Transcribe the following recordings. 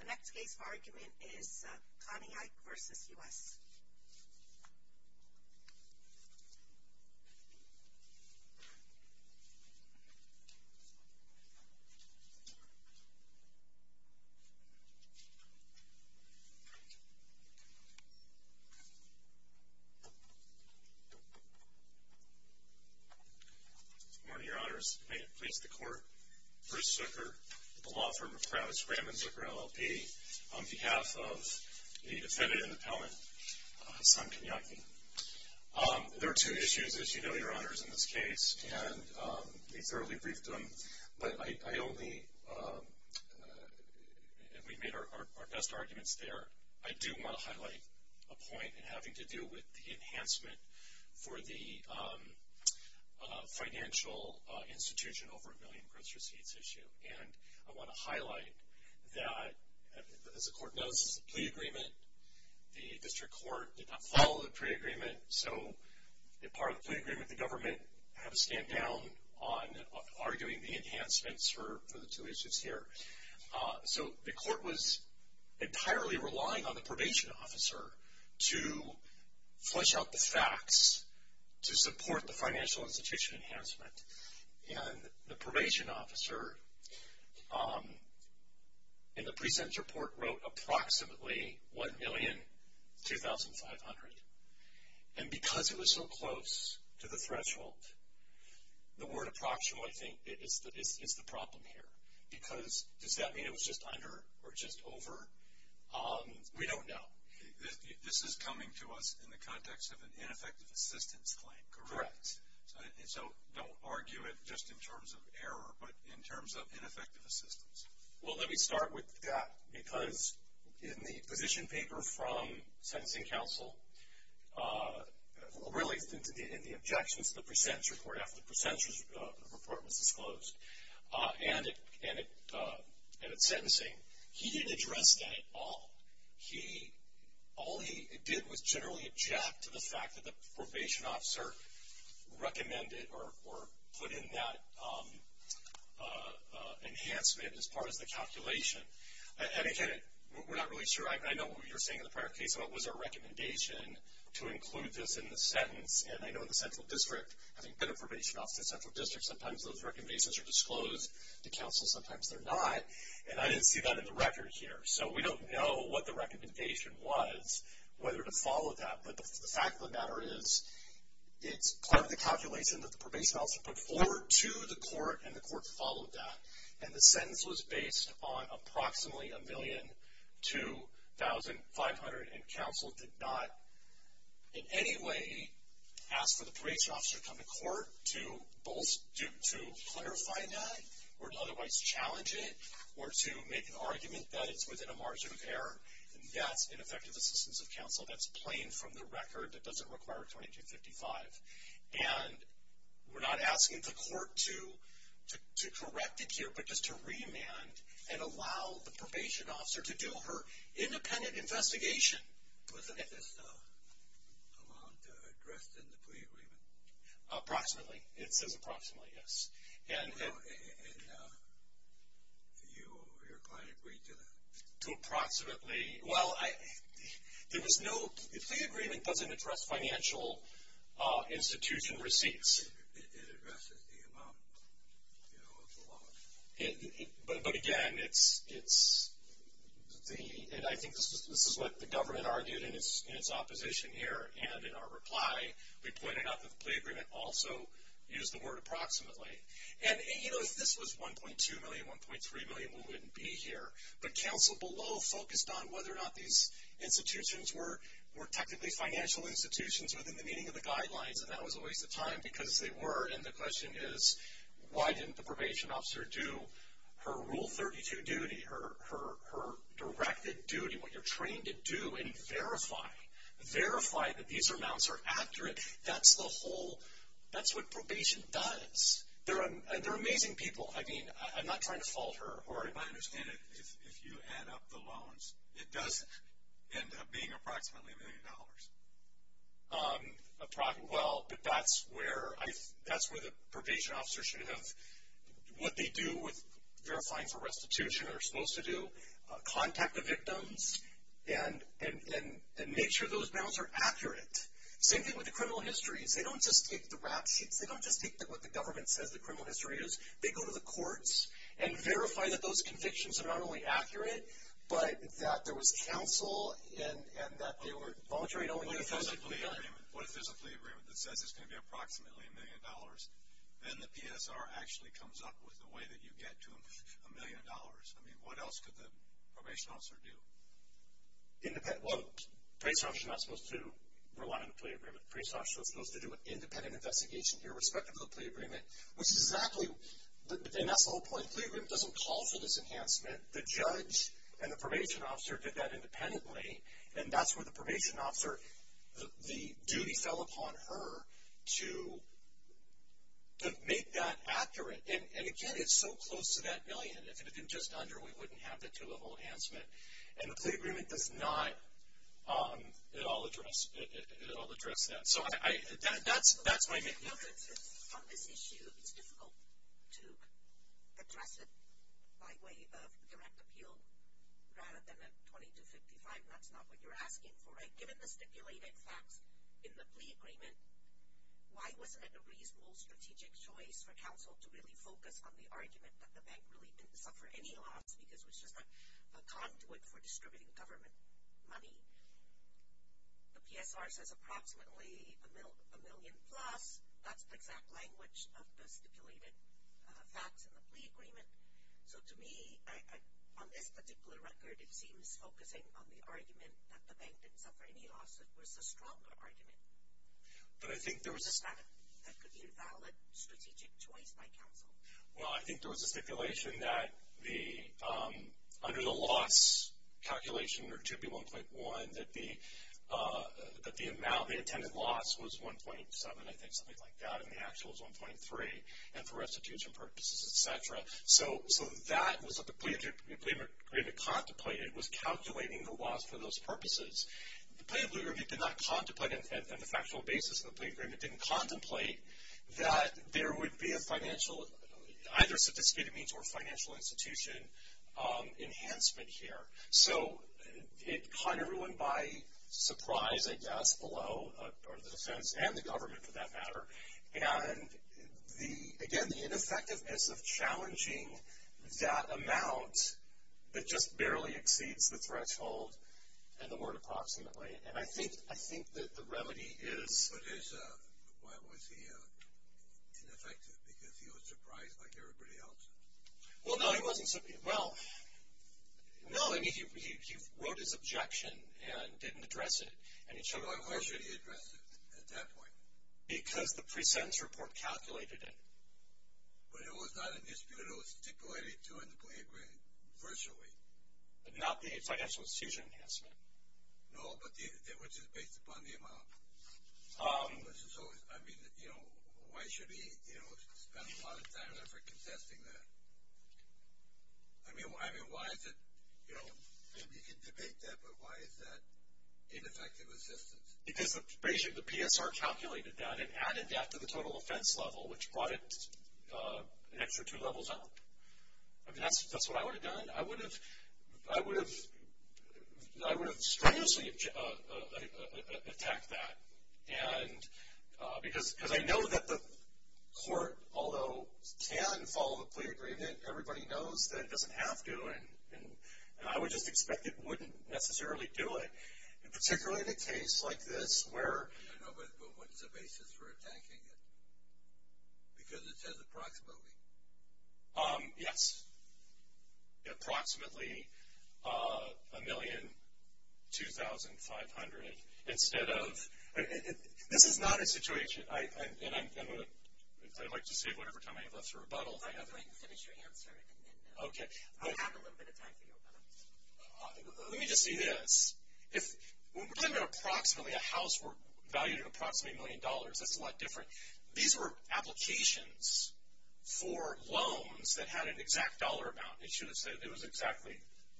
The next case for argument is Kanyike v. U.S. Bruce Zucker Good morning, your honors. May it please the court, Bruce Zucker, the law firm of Travis Graham and Zucker LLP, on behalf of the defendant in the Pellman, Hassan Kanyike. There are two issues, as you know, your honors, in this case, and we thoroughly briefed them, but I only, we made our best arguments there. I do want to highlight a point in having to do with the enhancement for the financial institution over a million gross receipts issue, and I want to highlight that, as the court knows, this is a plea agreement. The district court did not follow the plea agreement, so the part of the plea agreement the government had to stand down on arguing the enhancements for the two issues here. So the court was entirely relying on the probation officer to flesh out the facts to support the financial institution enhancement, and the probation officer in the present report wrote approximately $1,200,500, and because it was so close to the threshold, the word approximately, I think, is the problem here, because does that mean it was just under or just over? We don't know. This is coming to us in the context of an ineffective assistance claim, correct? Correct. So don't argue it just in terms of error, but in terms of ineffective assistance? Well, let me start with that, because in the position paper from sentencing counsel, really in the objections to the present report after the present report was disclosed, and at sentencing, he didn't address that at all. All he did was generally object to the fact that the probation officer recommended or put in that enhancement as part of the calculation. And again, we're not really sure. I know what you were saying in the prior case about was there a recommendation to include this in the sentence, and I know in the central district, having been a probation officer in the central district, sometimes those recommendations are disclosed to counsel, sometimes they're not, and I didn't see that in the record here. So we don't know what the recommendation was, whether to follow that, but the fact of the matter is it's part of the calculation that the probation officer put forward to the court, and the court followed that. And the sentence was based on approximately $1,200,500, and counsel did not in any way ask for the probation officer to come to court to clarify that or to otherwise challenge it or to make an argument that it's within a margin of error. That's ineffective assistance of counsel. That's plain from the record. It doesn't require $2,255,000. And we're not asking the court to correct it here, but just to remand and allow the probation officer to do her independent investigation. Wasn't this amount addressed in the plea agreement? Approximately. It says approximately, yes. And your client agreed to that? To approximately. Well, the plea agreement doesn't address financial institution receipts. It addresses the amount, you know, of the loan. But, again, it's the, and I think this is what the government argued in its opposition here, and in our reply we pointed out that the plea agreement also used the word approximately. And, you know, if this was $1.2 million, $1.3 million, we wouldn't be here. But counsel below focused on whether or not these institutions were technically financial institutions within the meaning of the guidelines, and that was a waste of time because they were. And the question is, why didn't the probation officer do her Rule 32 duty, her directed duty, what you're trained to do, and verify? Verify that these amounts are accurate. That's the whole, that's what probation does. They're amazing people. I mean, I'm not trying to fault her. If I understand it, if you add up the loans, it does end up being approximately $1 million. Well, but that's where I, that's where the probation officer should have, what they do with verifying for restitution, or are supposed to do, contact the victims, and make sure those amounts are accurate. Same thing with the criminal histories. They don't just take the rap sheets. They don't just take what the government says the criminal history is. They go to the courts and verify that those convictions are not only accurate, but that there was counsel and that they were voluntary and only uniformly done. What if there's a plea agreement that says it's going to be approximately $1 million? Then the PSR actually comes up with a way that you get to $1 million. I mean, what else could the probation officer do? Independent, well, the probation officer is not supposed to rely on the plea agreement. The probation officer is supposed to do an independent investigation here, irrespective of the plea agreement, which is exactly, and that's the whole point. The plea agreement doesn't call for this enhancement. The judge and the probation officer did that independently, and that's where the probation officer, the duty fell upon her to make that accurate. And, again, it's so close to that million. If it had been just under, we wouldn't have the two-level enhancement. And the plea agreement does not at all address that. On this issue, it's difficult to address it by way of direct appeal rather than a 2255. That's not what you're asking for, right? Given the stipulated facts in the plea agreement, why wasn't it a reasonable strategic choice for counsel to really focus on the argument that the bank really didn't suffer any loss because it was just a conduit for distributing government money? The PSR says approximately a million plus. That's the exact language of the stipulated facts in the plea agreement. So, to me, on this particular record, it seems focusing on the argument that the bank didn't suffer any loss was a stronger argument. But I think there was a stipulation. That could be a valid strategic choice by counsel. Well, I think there was a stipulation that under the loss calculation or 2B1.1 that the amount, the intended loss was 1.7, I think, something like that. And the actual was 1.3. And for restitution purposes, et cetera. So that was what the plea agreement contemplated, was calculating the loss for those purposes. The plea agreement did not contemplate, and the factual basis of the plea agreement didn't contemplate, that there would be either a stipulated means or financial institution enhancement here. So, it caught everyone by surprise, I guess, below, or the defense and the government, for that matter. And, again, the ineffectiveness of challenging that amount that just barely exceeds the threshold and the word approximately. And I think that the remedy is. But why was he ineffective? Because he was surprised like everybody else. Well, no, he wasn't. Well, no, I mean, he wrote his objection and didn't address it. Why wasn't he addressing it at that point? Because the pre-sentence report calculated it. But it was not a dispute. It was stipulated to in the plea agreement, virtually. But not the financial institution enhancement. No, but which is based upon the amount. So, I mean, you know, why should he, you know, spend a lot of time there for contesting that? I mean, why is it, you know, maybe you can debate that, but why is that ineffective assistance? Because basically the PSR calculated that and added that to the total offense level, which brought it an extra two levels up. I mean, that's what I would have done. I would have strenuously attacked that. And because I know that the court, although can follow the plea agreement, everybody knows that it doesn't have to. And I would just expect it wouldn't necessarily do it. And particularly in a case like this where. But what is the basis for attacking it? Because it says approximately. Yes. Approximately $1,200,500 instead of. This is not a situation. And I'd like to save whatever time I have left for rebuttals. I'm going to finish your answer and then. Okay. I'll have a little bit of time for your rebuttals. Let me just say this. When we're talking about approximately a house worth valued at approximately $1 million, that's a lot different. These were applications for loans that had an exact dollar amount. It shouldn't say. It was exactly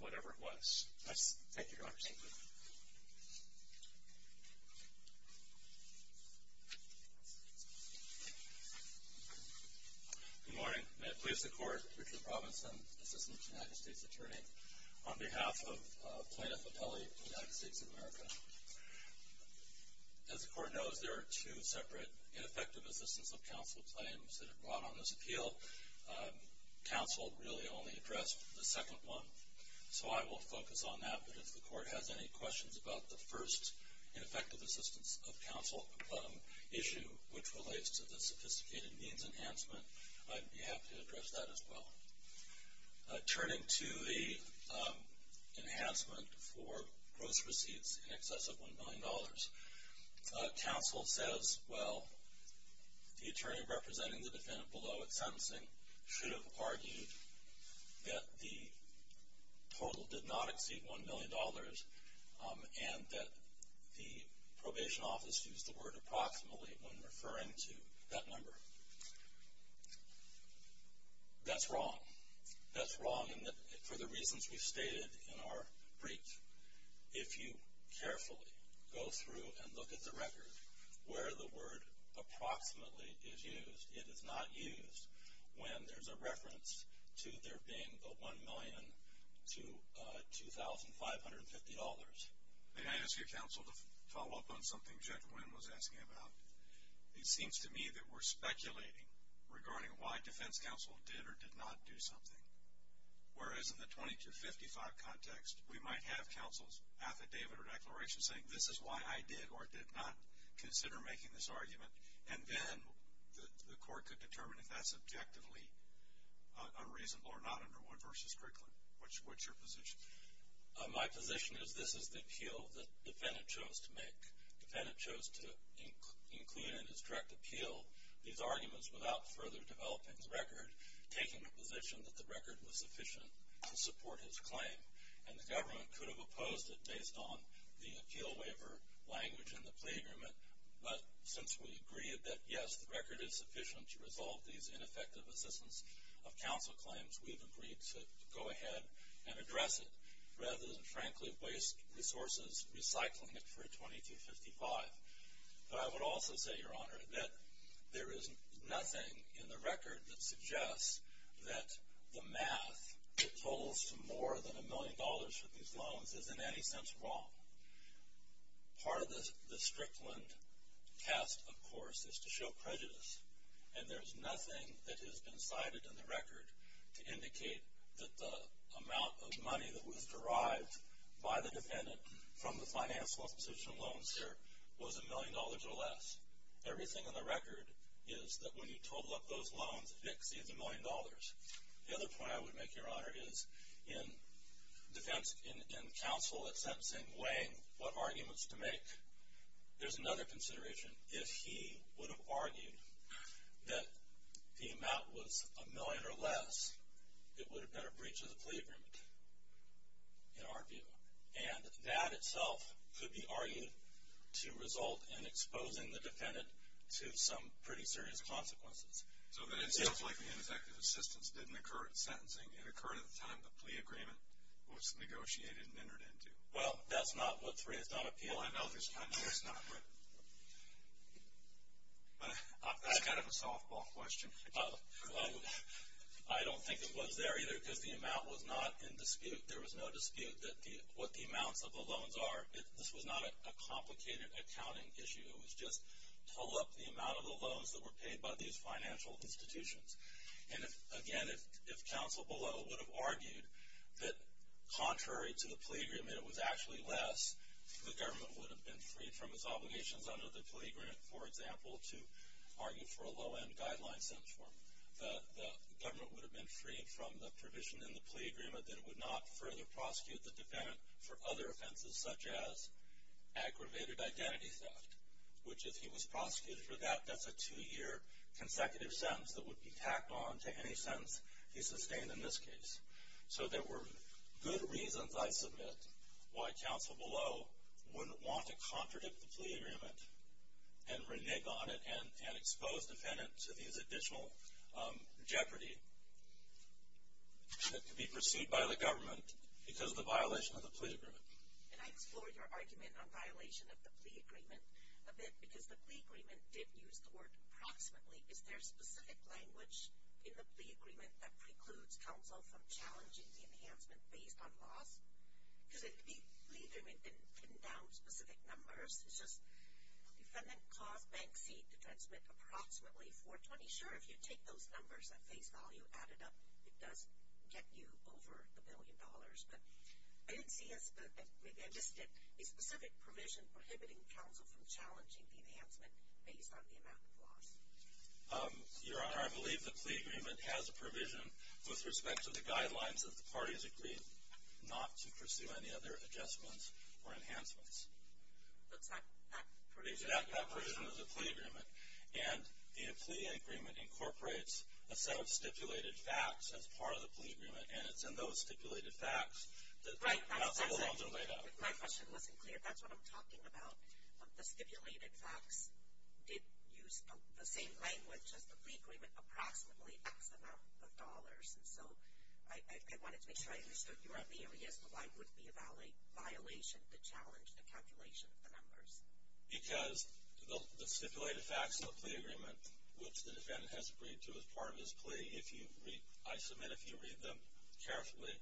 whatever it was. Thank you, Your Honor. Good morning. May it please the Court. Richard Robinson, Assistant to the United States Attorney. On behalf of Plaintiff Appelli of the United States of America. As the Court knows, there are two separate ineffective assistance of counsel claims that are brought on this appeal. Counsel really only addressed the second one. So I will focus on that. But if the Court has any questions about the first ineffective assistance of counsel issue, which relates to the sophisticated means enhancement, I'd be happy to address that as well. Turning to the enhancement for gross receipts in excess of $1 million, counsel says, well, the attorney representing the defendant below at sentencing should have argued that the total did not exceed $1 million and that the probation office used the word approximately when referring to that number. That's wrong. That's wrong for the reasons we stated in our brief. If you carefully go through and look at the record where the word approximately is used, it is not used when there's a reference to there being a $1 million to $2,550. May I ask you, counsel, to follow up on something Judge Wynn was asking about? It seems to me that we're speculating regarding why defense counsel did or did not do something. Whereas in the 2255 context, we might have counsel's affidavit or declaration saying, this is why I did or did not consider making this argument, and then the Court could determine if that's objectively unreasonable or not under Wood v. Crickland. What's your position? My position is this is the appeal that the defendant chose to make. The defendant chose to include in his direct appeal these arguments without further developing the record, taking the position that the record was sufficient to support his claim, and the government could have opposed it based on the appeal waiver language in the plea agreement. But since we agreed that, yes, the record is sufficient to resolve these ineffective assistance of counsel claims, we've agreed to go ahead and address it rather than, frankly, waste resources recycling it for a 2255. But I would also say, Your Honor, that there is nothing in the record that suggests that the math that totals to more than $1 million for these loans is in any sense wrong. Part of the Strickland test, of course, is to show prejudice, and there's nothing that has been cited in the record to indicate that the amount of money that was derived by the defendant from the financial institution of loans here was $1 million or less. Everything in the record is that when you total up those loans, it exceeds $1 million. The other point I would make, Your Honor, is in counsel at sentencing weighing what arguments to make, there's another consideration. If he would have argued that the amount was $1 million or less, it would have been a breach of the plea agreement, in our view. And that itself could be argued to result in exposing the defendant to some pretty serious consequences. So then it's just like the ineffective assistance didn't occur at sentencing. It occurred at the time the plea agreement was negotiated and entered into. Well, that's not what Three has done at PIA. Well, I know there's plenty that's not. But that's kind of a softball question. I don't think it was there either because the amount was not in dispute. There was no dispute that what the amounts of the loans are. This was not a complicated accounting issue. It was just total up the amount of the loans that were paid by these financial institutions. And again, if counsel below would have argued that contrary to the plea agreement it was actually less, the government would have been freed from its obligations under the plea agreement, for example, to argue for a low-end guideline sentence for him. The government would have been freed from the provision in the plea agreement that it would not further prosecute the defendant for other offenses such as aggravated identity theft, which if he was prosecuted for that, that's a two-year consecutive sentence that would be tacked on to any sentence he sustained in this case. So there were good reasons, I submit, why counsel below wouldn't want to contradict the plea agreement and renege on it and expose the defendant to these additional jeopardy that could be pursued by the government because of the violation of the plea agreement. And I explored your argument on violation of the plea agreement a bit because the plea agreement did use the word approximately. Is there specific language in the plea agreement that precludes counsel from challenging the enhancement based on loss? Because the plea agreement didn't pin down specific numbers. It's just the defendant caused Bank C to transmit approximately 420. Sure, if you take those numbers at face value, add it up, it does get you over the billion dollars. But I didn't see a specific provision prohibiting counsel from challenging the enhancement based on the amount of loss. Your Honor, I believe the plea agreement has a provision with respect to the guidelines that the parties agreed not to pursue any other adjustments or enhancements. That's not that provision. It's not that provision of the plea agreement. And the plea agreement incorporates a set of stipulated facts as part of the plea agreement, and it's in those stipulated facts that counsel below is laid out. If my question wasn't clear, that's what I'm talking about. The stipulated facts did use the same language as the plea agreement, approximately X amount of dollars. And so I wanted to make sure I understood your idea as to why it would be a violation to challenge the calculation of the numbers. Because the stipulated facts of the plea agreement, which the defendant has agreed to as part of his plea, I submit if you read them carefully,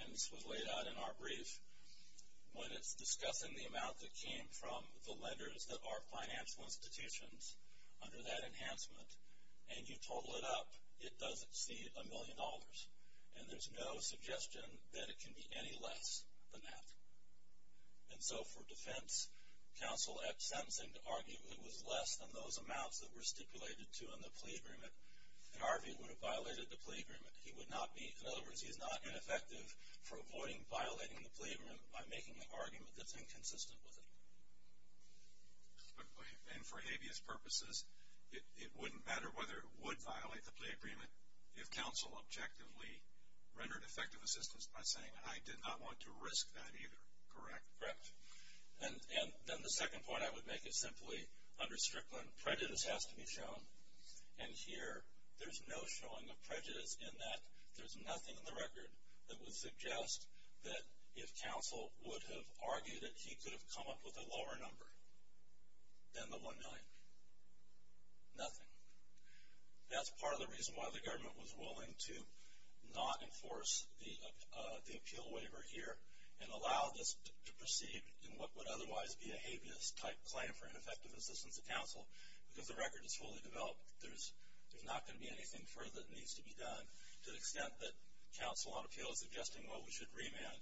and this was laid out in our brief, when it's discussing the amount that came from the lenders that are financial institutions under that enhancement, and you total it up, it does exceed a million dollars. And there's no suggestion that it can be any less than that. And so for defense counsel sentencing to argue it was less than those amounts that were stipulated to in the plea agreement, Harvey would have violated the plea agreement. In other words, he's not ineffective for avoiding violating the plea agreement by making an argument that's inconsistent with it. And for habeas purposes, it wouldn't matter whether it would violate the plea agreement if counsel objectively rendered effective assistance by saying, I did not want to risk that either, correct? Correct. And then the second point I would make is simply under Strickland prejudice has to be shown. And here there's no showing of prejudice in that there's nothing in the record that would suggest that if counsel would have argued it, he could have come up with a lower number than the 1 million. Nothing. That's part of the reason why the government was willing to not enforce the appeal waiver here and allow this to proceed in what would otherwise be a habeas type claim for ineffective assistance to counsel because the record is fully developed. There's not going to be anything further that needs to be done to the extent that counsel on appeal is suggesting, well, we should remand.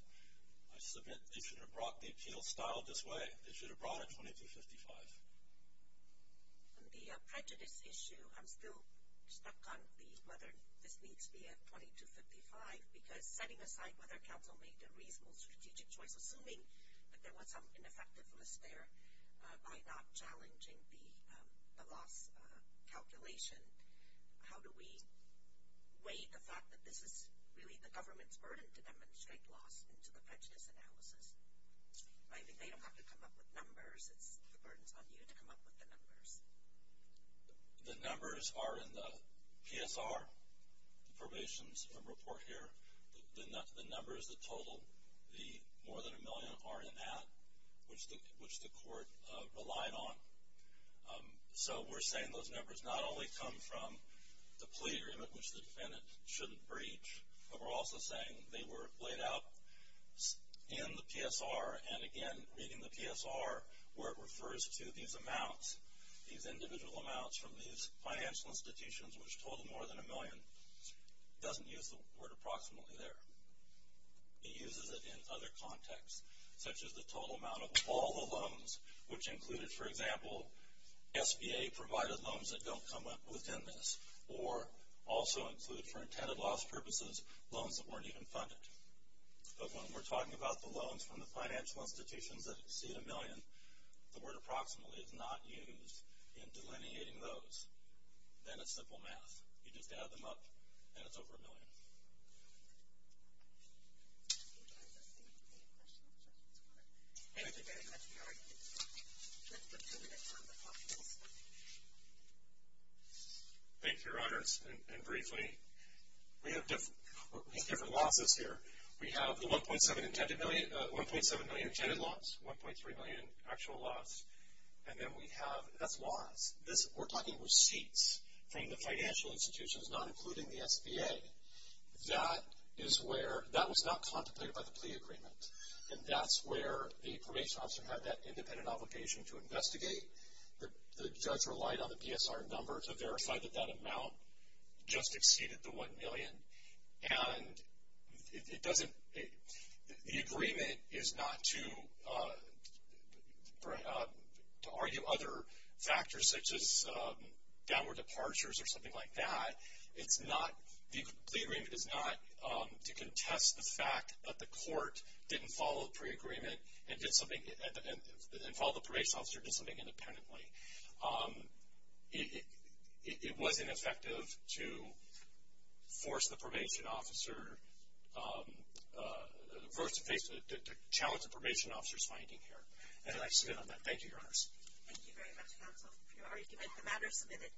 I submit they should have brought the appeal style this way. They should have brought it 2255. On the prejudice issue, I'm still stuck on whether this needs to be at 2255 because setting aside whether counsel made a reasonable strategic choice, assuming that there was some ineffectiveness there by not challenging the loss calculation, how do we weigh the fact that this is really the government's burden to demonstrate loss into the prejudice analysis? I mean, they don't have to come up with numbers. It's the burden is on you to come up with the numbers. The numbers are in the PSR, the Probations Report here. The numbers that total the more than a million are in that, which the court relied on. So we're saying those numbers not only come from the plea agreement, which the defendant shouldn't breach, but we're also saying they were laid out in the PSR and, again, reading the PSR, where it refers to these amounts, these individual amounts from these financial institutions, which total more than a million, doesn't use the word approximately there. It uses it in other contexts, such as the total amount of all the loans, which included, for example, SBA-provided loans that don't come within this or also include, for intended loss purposes, loans that weren't even funded. But when we're talking about the loans from the financial institutions that exceed a million, the word approximately is not used in delineating those. Then it's simple math. You just add them up, and it's over a million. Any questions? Thank you very much for your argument. Let's go to the next one. Thank you, Your Honors. And briefly, we have different losses here. We have the 1.7 million intended loss, 1.3 million actual loss, and then we have, that's loss. We're talking receipts from the financial institutions, not including the SBA. That was not contemplated by the plea agreement, and that's where the probation officer had that independent obligation to investigate. The judge relied on the PSR number to verify that that amount just exceeded the 1 million, and the agreement is not to argue other factors such as downward departures or something like that. The plea agreement is not to contest the fact that the court didn't follow the pre-agreement and follow the probation officer to do something independently. It wasn't effective to force the probation officer versus to challenge the probation officer's finding here, and I spin on that. Thank you, Your Honors. Thank you very much, counsel, for your argument. The matter is submitted.